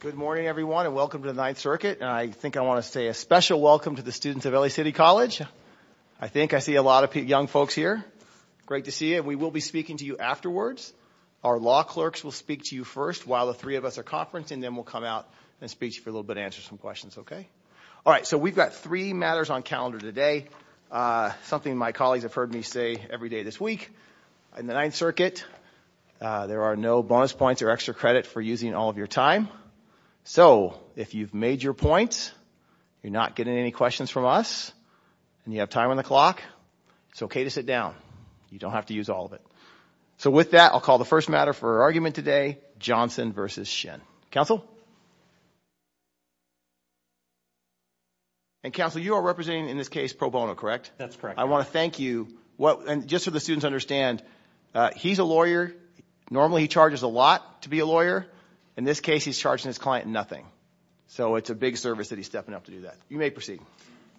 Good morning, everyone, and welcome to the Ninth Circuit. I think I want to say a special welcome to the students of L.A. City College. I think I see a lot of young folks here. Great to see you. We will be speaking to you afterwards. Our law clerks will speak to you first while the three of us are conferencing, and then we'll come out and speak to you for a little bit and answer some questions, okay? All right, so we've got three matters on calendar today, something my colleagues have heard me say every day this week. In the Ninth Circuit, there are no bonus points or extra credit for using all of your time. So if you've made your points, you're not getting any questions from us, and you have time on the clock, it's okay to sit down. You don't have to use all of it. So with that, I'll call the first matter for argument today, Johnson v. Shinn. Counsel? And Counsel, you are representing, in this case, pro bono, correct? That's correct. I want to thank you. And just so the students understand, he's a lawyer. Normally, he charges a lot to be a lawyer. In this case, he's charging his client nothing. So it's a big service that he's stepping up to do that. You may proceed.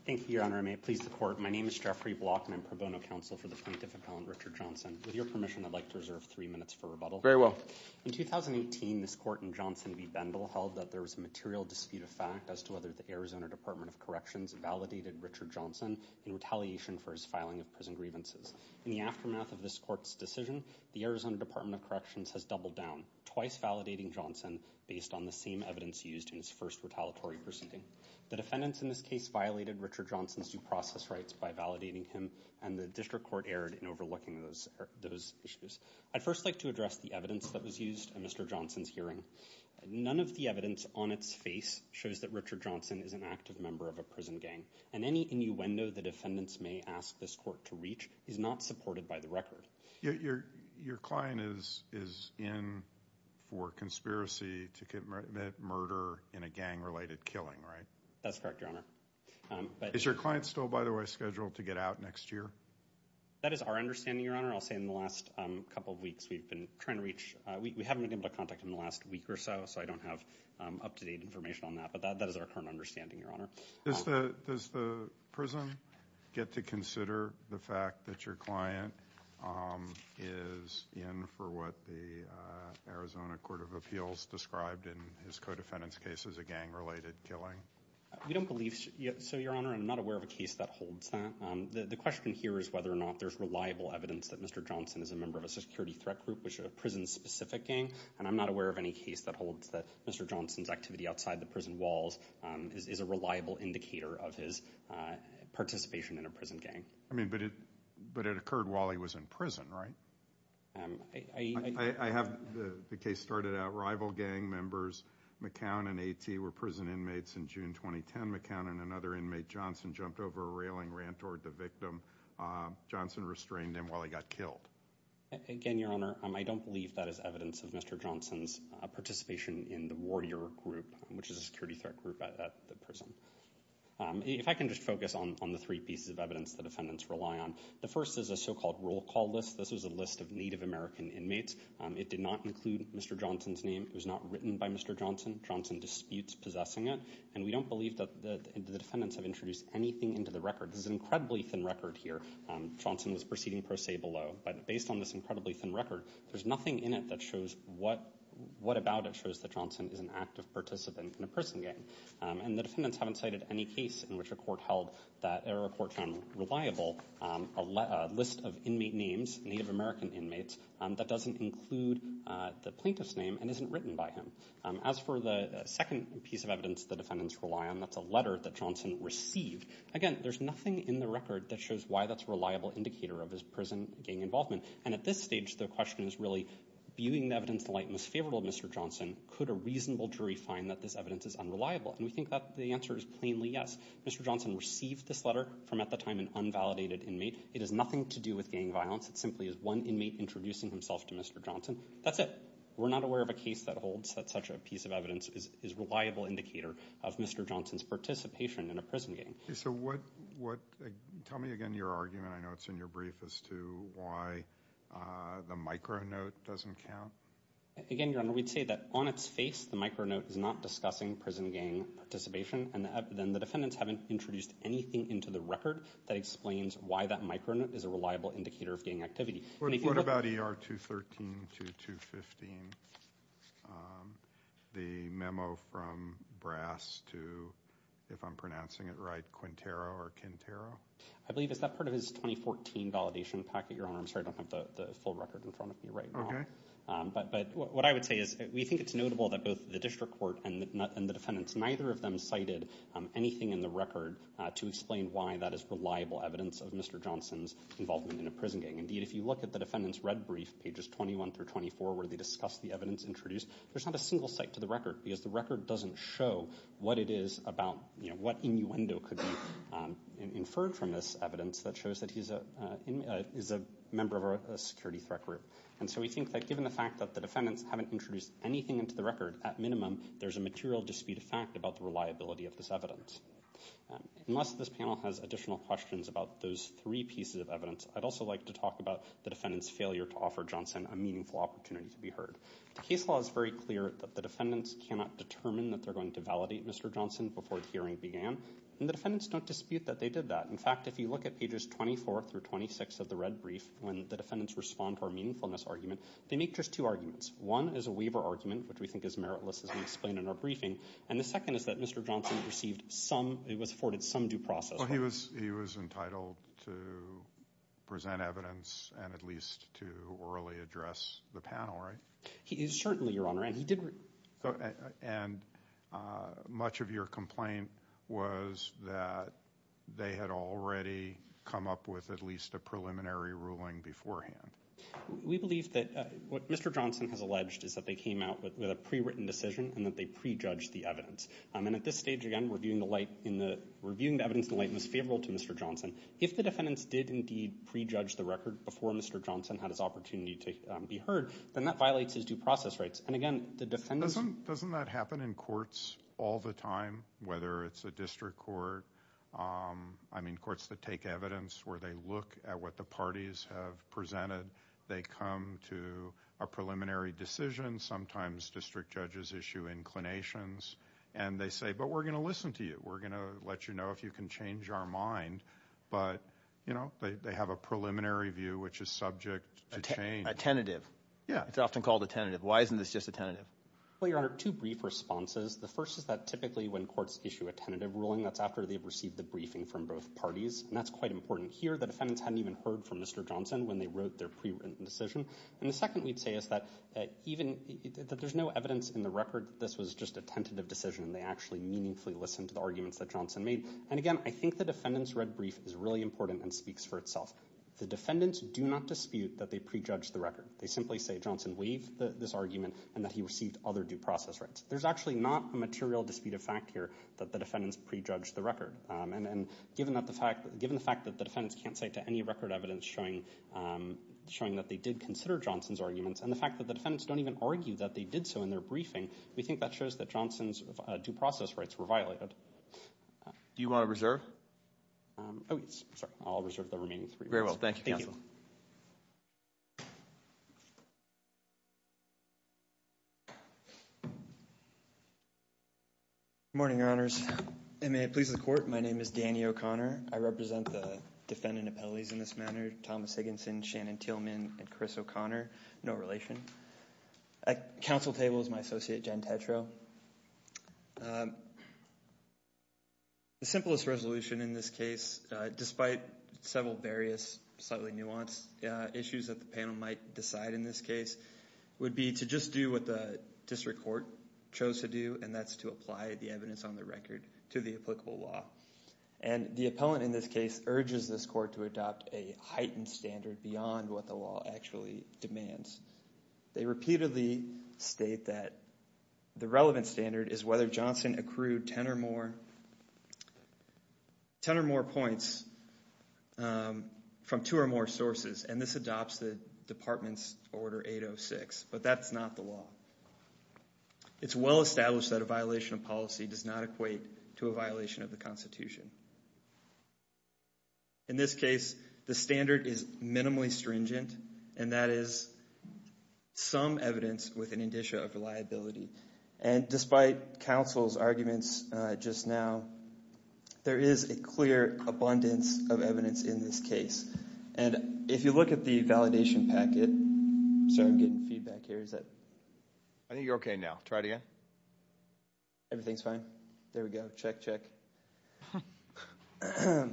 Thank you, Your Honor. I may please the court. My name is Jeffrey Block, and I'm pro bono counsel for the plaintiff appellant Richard Johnson. With your permission, I'd like to reserve three minutes for rebuttal. Very well. In 2018, this court in Johnson v. Bendell held that there was a material dispute of fact as to whether the Arizona Department of Corrections validated Richard Johnson in retaliation for his filing of prison grievances. In the aftermath of this court's decision, the Arizona Department of Corrections has doubled down, twice validating Johnson based on the same evidence used in his first retaliatory proceeding. The defendants in this case violated Richard Johnson's due process rights by validating him, and the district court erred in overlooking those issues. I'd first like to address the evidence that was used in Mr. Johnson's hearing. None of the evidence on its face shows that Richard Johnson is an active member of a prison gang, and any innuendo the defendants may ask this court to reach is not supported by the record. Your client is in for conspiracy to commit murder in a gang-related killing, right? That's correct, Your Honor. Is your client still, by the way, scheduled to get out next year? That is our understanding, Your Honor. I'll say in the last couple of weeks, we've been trying to reach, we haven't been able to contact him in the last week or so, so I don't have up-to-date information on that, but that is our current understanding, Your Honor. Does the prison get to consider the fact that your client is in for what the Arizona Court of Appeals described in his co-defendant's case as a gang-related killing? We don't believe, so Your Honor, I'm not aware of a case that holds that. The question here is whether or not there's reliable evidence that Mr. Johnson is a member of a security threat group, which is a prison-specific gang, and I'm not aware of any case that holds that Mr. Johnson's reliable indicator of his participation in a prison gang. I mean, but it occurred while he was in prison, right? I have the case started out rival gang members. McCown and A.T. were prison inmates in June 2010. McCown and another inmate, Johnson, jumped over a railing, ran toward the victim. Johnson restrained him while he got killed. Again, Your Honor, I don't believe that is evidence of Mr. Johnson's participation in the Warrior group, which is a security threat group at the prison. If I can just focus on the three pieces of evidence the defendants rely on, the first is a so-called roll call list. This was a list of Native American inmates. It did not include Mr. Johnson's name. It was not written by Mr. Johnson. Johnson disputes possessing it, and we don't believe that the defendants have introduced anything into the record. This is an incredibly thin record here. Johnson was proceeding pro se below, but based on this incredibly thin record, there's nothing in it that shows what about it shows that Johnson is an active participant in a prison gang. And the defendants haven't cited any case in which a court held that there are reports on reliable, a list of inmate names, Native American inmates, that doesn't include the plaintiff's name and isn't written by him. As for the second piece of evidence the defendants rely on, that's a letter that Johnson received. Again, there's nothing in the record that shows why that's a reliable indicator of his prison gang involvement. And at this stage, the question is really, viewing the evidence in the light most favorable of Mr. Johnson, could a reasonable jury find that this evidence is unreliable? And we think that the answer is plainly yes. Mr. Johnson received this letter from, at the time, an unvalidated inmate. It has nothing to do with gang violence. It simply is one inmate introducing himself to Mr. Johnson. That's it. We're not aware of a case that holds that such a piece of evidence is a reliable indicator of Mr. Johnson's participation in a prison gang. So what, tell me again your argument, I know it's in your brief, as to why the micro-note doesn't count. Again, Your Honor, we'd say that on its face the micro-note is not discussing prison gang participation and then the defendants haven't introduced anything into the record that explains why that micro-note is a reliable indicator of gang activity. What about ER 213 to 215? The memo from Brass to, if I'm pronouncing it right, Quintero or Quintero? I believe it's that part of his 2014 validation packet, Your Honor. I'm sorry, I don't have the full record in front of me right now. But what I would say is, we think it's notable that both the district court and the defendants, neither of them cited anything in the record to explain why that is reliable evidence of Mr. Johnson's involvement in a prison gang. Indeed, if you look at the defendant's red brief, pages 21 through 24, where they discuss the evidence introduced, there's not a single cite to the record because the record doesn't show what it is about, you know, what innuendo could be inferred from this evidence that shows that he's a member of a security threat group. And so we think that given the fact that the defendants haven't introduced anything into the record, at minimum, there's a material dispute of fact about the reliability of this evidence. Unless this panel has additional questions about those three pieces of evidence, I'd also like to talk about the defendant's failure to offer Johnson a meaningful opportunity to be heard. The case law is very clear that the defendants cannot determine that they're going to validate Mr. Johnson before the hearing began. And the defendants don't dispute that they did that. In fact, if you look at pages 24 through 26 of the red brief, when the defendants respond to our meaningfulness argument, they make just two arguments. One is a waiver argument, which we think is meritless as we explained in our briefing. And the second is that Mr. Johnson received some, it was afforded some due process. Well, he was entitled to present evidence and at least to orally address the panel, right? He certainly, Your Honor, and he did. And much of your complaint was that they had already come up with at least a preliminary ruling beforehand. We believe that what Mr. Johnson has alleged is that they came out with a pre-written decision and that they pre-judged the evidence. And at this stage, again, reviewing the light in the, reviewing the evidence in light was favorable to Mr. Johnson. If the defendants did indeed pre-judge the record before Mr. Johnson had his opportunity to be heard, then that violates his due process rights. And again, the defendants. Doesn't that happen in courts all the time, whether it's a district court? I mean, courts that take evidence where they look at what the parties have presented. They come to a preliminary decision. Sometimes district judges issue inclinations. And they say, but we're going to listen to you. We're going to let you know if you can change our mind. But, you know, they have a preliminary view which is subject to change. A tentative. Yeah. It's often called a tentative. Why isn't this just a tentative? Well, Your Honor, two brief responses. The first is that typically when courts issue a tentative ruling, that's after they've received the briefing from both parties. And that's quite important here. The defendants hadn't even heard from Mr. Johnson when they wrote their pre-written decision. And the second we'd say is that even, that there's no evidence in the record that this was just a tentative decision. And they actually meaningfully listened to the arguments that Johnson made. And again, I think the defendant's red brief is really important and speaks for itself. The defendants do not dispute that they prejudged the record. They simply say Johnson waived this argument and that he received other due process rights. There's actually not a material dispute of fact here that the defendants prejudged the record. And given that the fact, given the fact that the defendants can't say to any record evidence showing that they did consider Johnson's arguments, and the fact that the defendants don't even argue that they did so in their briefing, we think that shows that Johnson's due process rights were violated. Do you want to reserve? Oh, sorry, I'll reserve the remaining three. Very well. Thank you, counsel. Good morning, Your Honors. And may it please the court, my name is Danny O'Connor. I represent the defendant appellees in this matter, Thomas Higginson, Shannon Tillman, and Chris O'Connor, no relation. At counsel table is my associate, Jen Tetreault. The simplest resolution in this case, despite several various subtly nuanced issues that the panel might decide in this case, would be to just do what the district court chose to do, and that's to apply the evidence on the record to the applicable law. And the appellant in this case urges this court to adopt a heightened standard beyond what the law actually demands. They repeatedly state that the relevant standard is whether Johnson accrued 10 or more points from two or more sources, and this adopts the department's order 806, but that's not the law. It's well established that a violation of policy does not equate to a violation of the Constitution. In this case, the standard is minimally stringent, and that is some evidence with an indicia of reliability, and despite counsel's arguments just now, there is a clear abundance of evidence in this case. And if you look at the validation packet, so I'm getting feedback here, is that? I think you're okay now. Try it again. Everything's fine. There we go. Check, check. I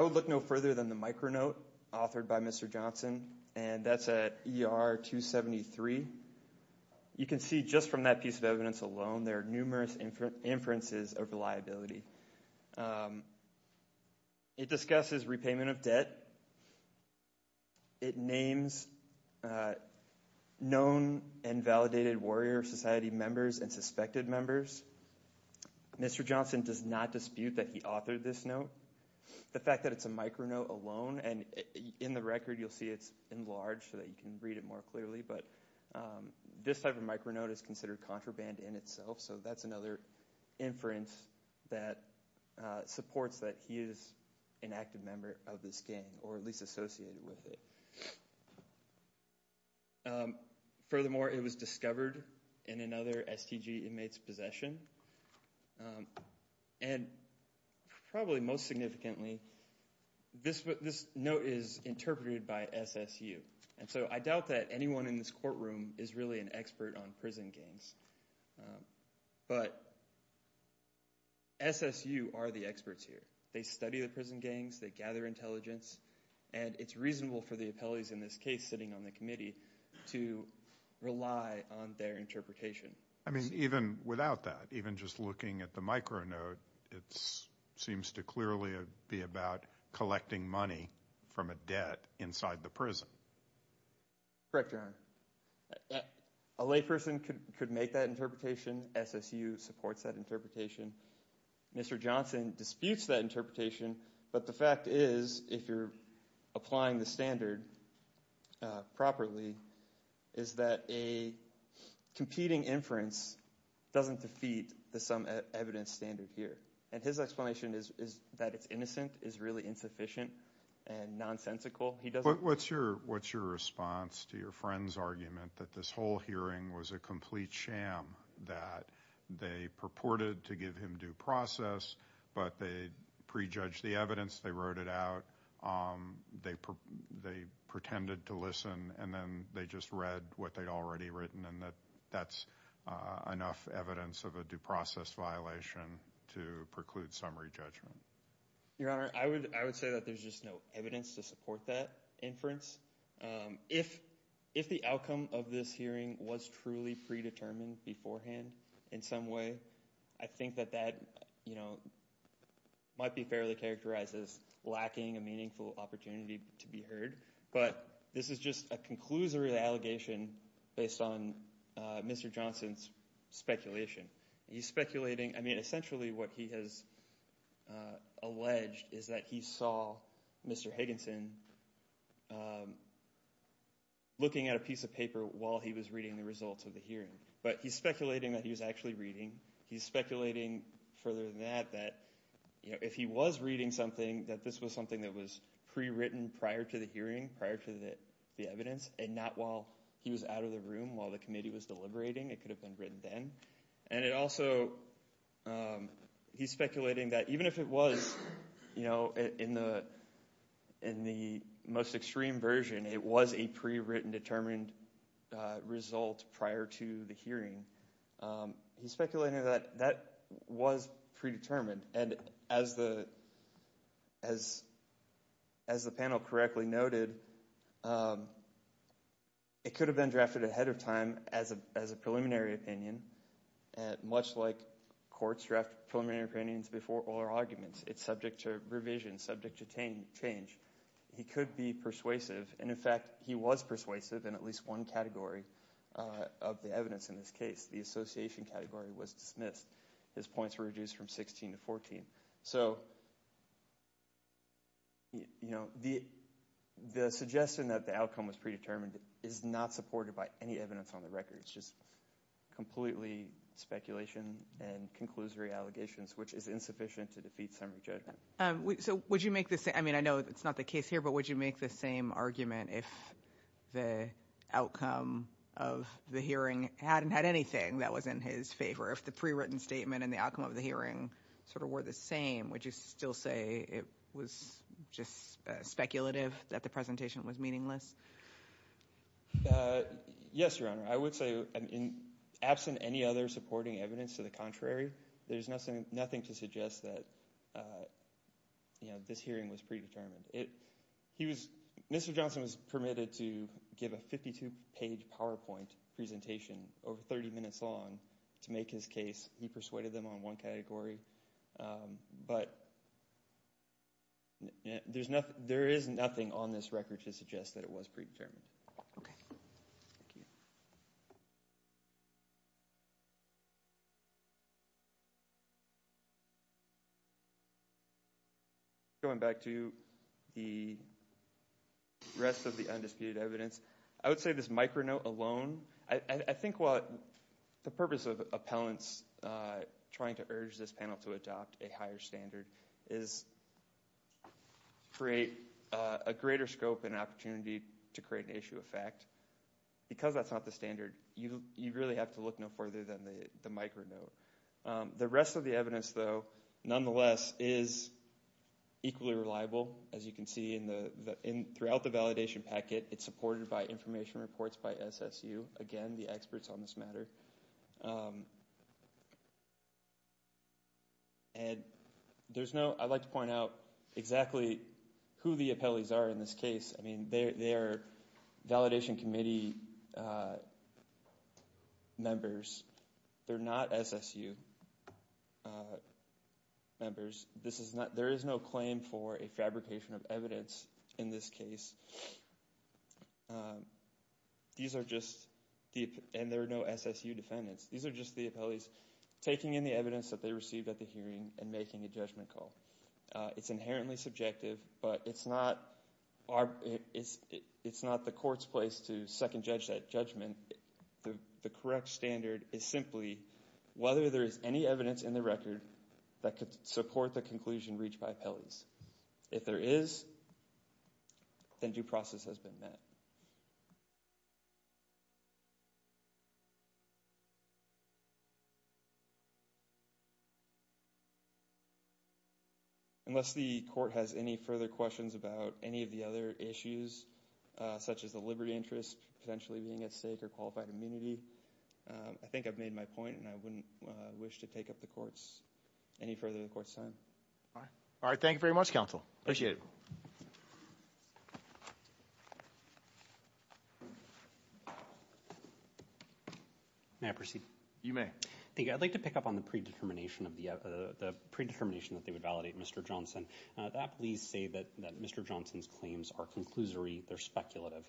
will look no further than the micro note authored by Mr. Johnson, and that's at ER 273. You can see just from that piece of evidence alone, there are numerous inferences of reliability. It discusses repayment of debt. It names known and validated Warrior Society members and suspected members. Mr. Johnson does not dispute that he authored this note. The fact that it's a micro note alone, and in the record, you'll see it's enlarged so that you can read it more clearly, but this type of micro note is considered contraband in itself, so that's another inference that supports that he is an active member of this gang, or at least associated with it. Furthermore, it was discovered in another STG inmate's possession, and probably most significantly, this note is interpreted by SSU, and so I doubt that anyone in this courtroom is really an expert on prison gangs, but SSU are the experts here. They study the prison gangs. They gather intelligence, and it's reasonable for the appellees in this case sitting on the committee to rely on their interpretation. I mean, even without that, even just looking at the micro note, it seems to clearly be about collecting money from a debt inside the prison. Correct, Your Honor. A layperson could make that interpretation. SSU supports that interpretation. Mr. Johnson disputes that interpretation, but the fact is, if you're applying the standard properly, is that a competing inference doesn't defeat the sum evidence standard here, and his explanation is that it's innocent, is really insufficient, and nonsensical. He doesn't- What's your response to your friend's argument that this whole hearing was a complete sham, that they purported to give him due process, but they prejudged the evidence, they wrote it out, they pretended to listen, and then they just read what they'd already written, and that that's enough evidence of a due process violation to preclude summary judgment? Your Honor, I would say that there's just no evidence to support that inference. If the outcome of this hearing was truly predetermined beforehand in some way, I think that that, you know, might be fairly characterized as lacking a meaningful opportunity to be heard. But this is just a conclusory allegation based on Mr. Johnson's speculation. He's speculating- I mean, essentially what he has alleged is that he saw Mr. Higginson looking at a piece of paper while he was reading the results of the hearing. But he's speculating that he was actually reading. He's speculating, further than that, that if he was reading something, that this was something that was pre-written prior to the hearing, prior to the evidence, and not while he was out of the room, while the committee was deliberating. It could have been written then. And it also- he's speculating that even if it was, you know, in the most extreme version, it was a pre-written determined result prior to the hearing. He's speculating that that was predetermined. And as the panel correctly noted, it could have been drafted ahead of time as a preliminary opinion, much like courts draft preliminary opinions before all arguments. It's subject to revision, subject to change. He could be persuasive. And in fact, he was persuasive in at least one category of the evidence in this case. The association category was dismissed. His points were reduced from 16 to 14. So, you know, the suggestion that the outcome was predetermined is not supported by any evidence on the record. It's just completely speculation and conclusory allegations, which is insufficient to defeat summary judgment. So would you make the same- I mean, I know it's not the case here, but would you make the same argument if the outcome of the hearing hadn't had anything that was in his favor? If the pre-written statement and the outcome of the hearing sort of were the same, would you still say it was just speculative that the presentation was meaningless? Yes, Your Honor. I would say, absent any other supporting evidence to the contrary, there's nothing to suggest that, you know, this hearing was predetermined. He was- Mr. Johnson was permitted to give a 52-page PowerPoint presentation over 30 minutes long to make his case. He persuaded them on one category. But there is nothing on this record to suggest that it was predetermined. Okay. Thank you. Going back to the rest of the undisputed evidence, I would say this micro note alone, I think what the purpose of appellants trying to urge this panel to adopt a higher standard is create a greater scope and opportunity to create an issue of fact. Because that's not the standard, you really have to look no further than the micro note. The rest of the evidence, though, nonetheless, is equally reliable. As you can see in the- throughout the validation packet, it's supported by information reports by SSU, again, the experts on this matter. And there's no- I'd like to point out exactly who the appellees are in this case. I mean, they are validation committee members. They're not SSU members. There is no claim for a fabrication of evidence in this case. These are just- and there are no SSU defendants. These are just the appellees taking in the evidence that they received at the hearing and making a judgment call. It's inherently subjective, but it's not the court's place to second-judge that judgment. The correct standard is simply whether there is any evidence in the record that could support the conclusion reached by appellees. If there is, then due process has been met. Unless the court has any further questions about any of the other issues, such as the liberty interest potentially being at stake or qualified immunity, I think I've made my point and I wouldn't wish to take up the court's- any further of the court's time. All right. All right. Thank you very much, counsel. Appreciate it. May I proceed? You may. Thank you. I'd like to pick up on the predetermination of the- the predetermination that they would validate Mr. Johnson. The appellees say that Mr. Johnson's claims are conclusory, they're speculative.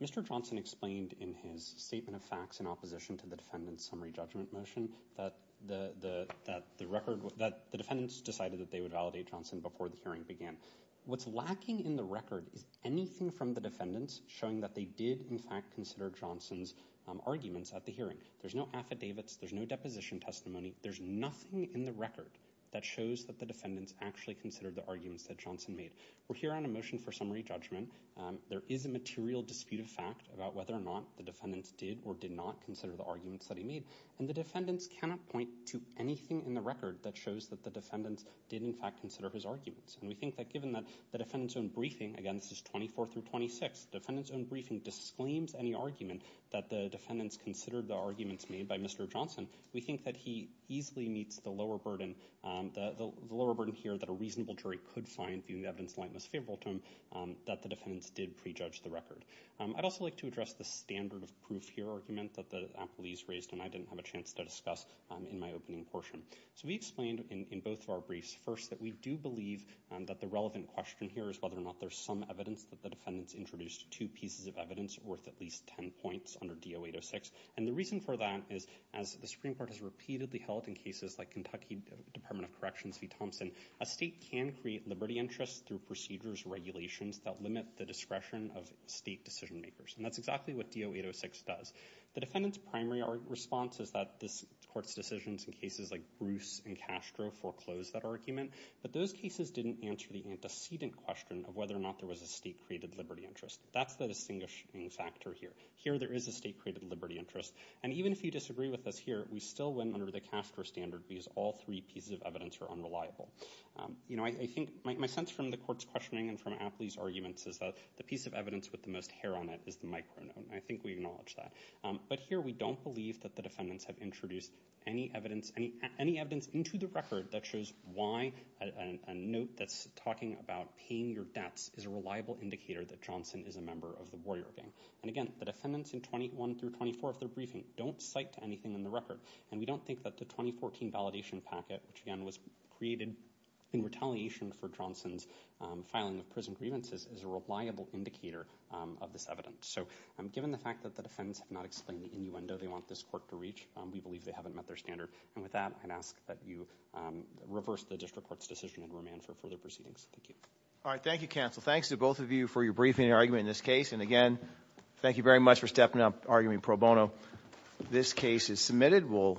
Mr. Johnson explained in his statement of facts in opposition to the defendant's summary judgment motion that the record- that the defendants decided that they would validate Johnson before the hearing began. What's lacking in the record is anything from the defendants showing that they did, in fact, consider Johnson's arguments at the hearing. There's no affidavits, there's no deposition testimony, there's nothing in the record that shows that the defendants actually considered the arguments that Johnson made. We're here on a motion for summary judgment. There is a material dispute of fact about whether or not the defendants did or did not consider the arguments that he made. And the defendants cannot point to anything in the record that shows that the defendants did, in fact, consider his arguments. And we think that given that the defendants' own briefing, again, this is 24 through 26, the defendants' own briefing disclaims any argument that the defendants considered the arguments made by Mr. Johnson. We think that he easily meets the lower burden- the lower burden here that a reasonable jury could find, viewing the evidence in the light most favorable to him, that the defendants did prejudge the record. I'd also like to address the standard of proof here argument that the appellees raised, and I didn't have a chance to discuss in my opening portion. So we explained in both of our briefs, first, that we do believe that the relevant question here is whether or not there's some evidence that the defendants introduced two pieces of evidence worth at least 10 points under DO-806. And the reason for that is, as the Supreme Court has repeatedly held in cases like Kentucky Department of Corrections v. Thompson, a state can create liberty interests through procedures, regulations that limit the discretion of state decision-makers. And that's exactly what DO-806 does. The defendants' primary response is that this court's decisions in cases like Bruce and Castro foreclosed that argument, but those cases didn't answer the antecedent question of whether or not there was a state-created liberty interest. That's the distinguishing factor here. Here, there is a state-created liberty interest. And even if you disagree with us here, we still went under the Castro standard because all three pieces of evidence are unreliable. You know, I think my sense from the court's questioning and from Apley's arguments is that the piece of evidence with the most hair on it is the micro-note, and I think we acknowledge that. But here, we don't believe that the defendants have introduced any evidence into the record that shows why a note that's talking about paying your debts is a reliable indicator that Johnson is a member of the Warrior Gang. And again, the defendants in 21 through 24 of their briefing don't cite anything in the record, and we don't think that the 2014 validation packet, which again was created in retaliation for Johnson's filing of prison grievances, is a reliable indicator of this evidence. So given the fact that the defendants have not explained the innuendo they want this court to reach, we believe they haven't met their standard. And with that, I'd ask that you reverse the district court's decision and remand for further proceedings. Thank you. All right. Thank you, counsel. Thanks to both of you for your briefing and argument in this case. And again, thank you very much for stepping up, arguing pro bono. This case is submitted.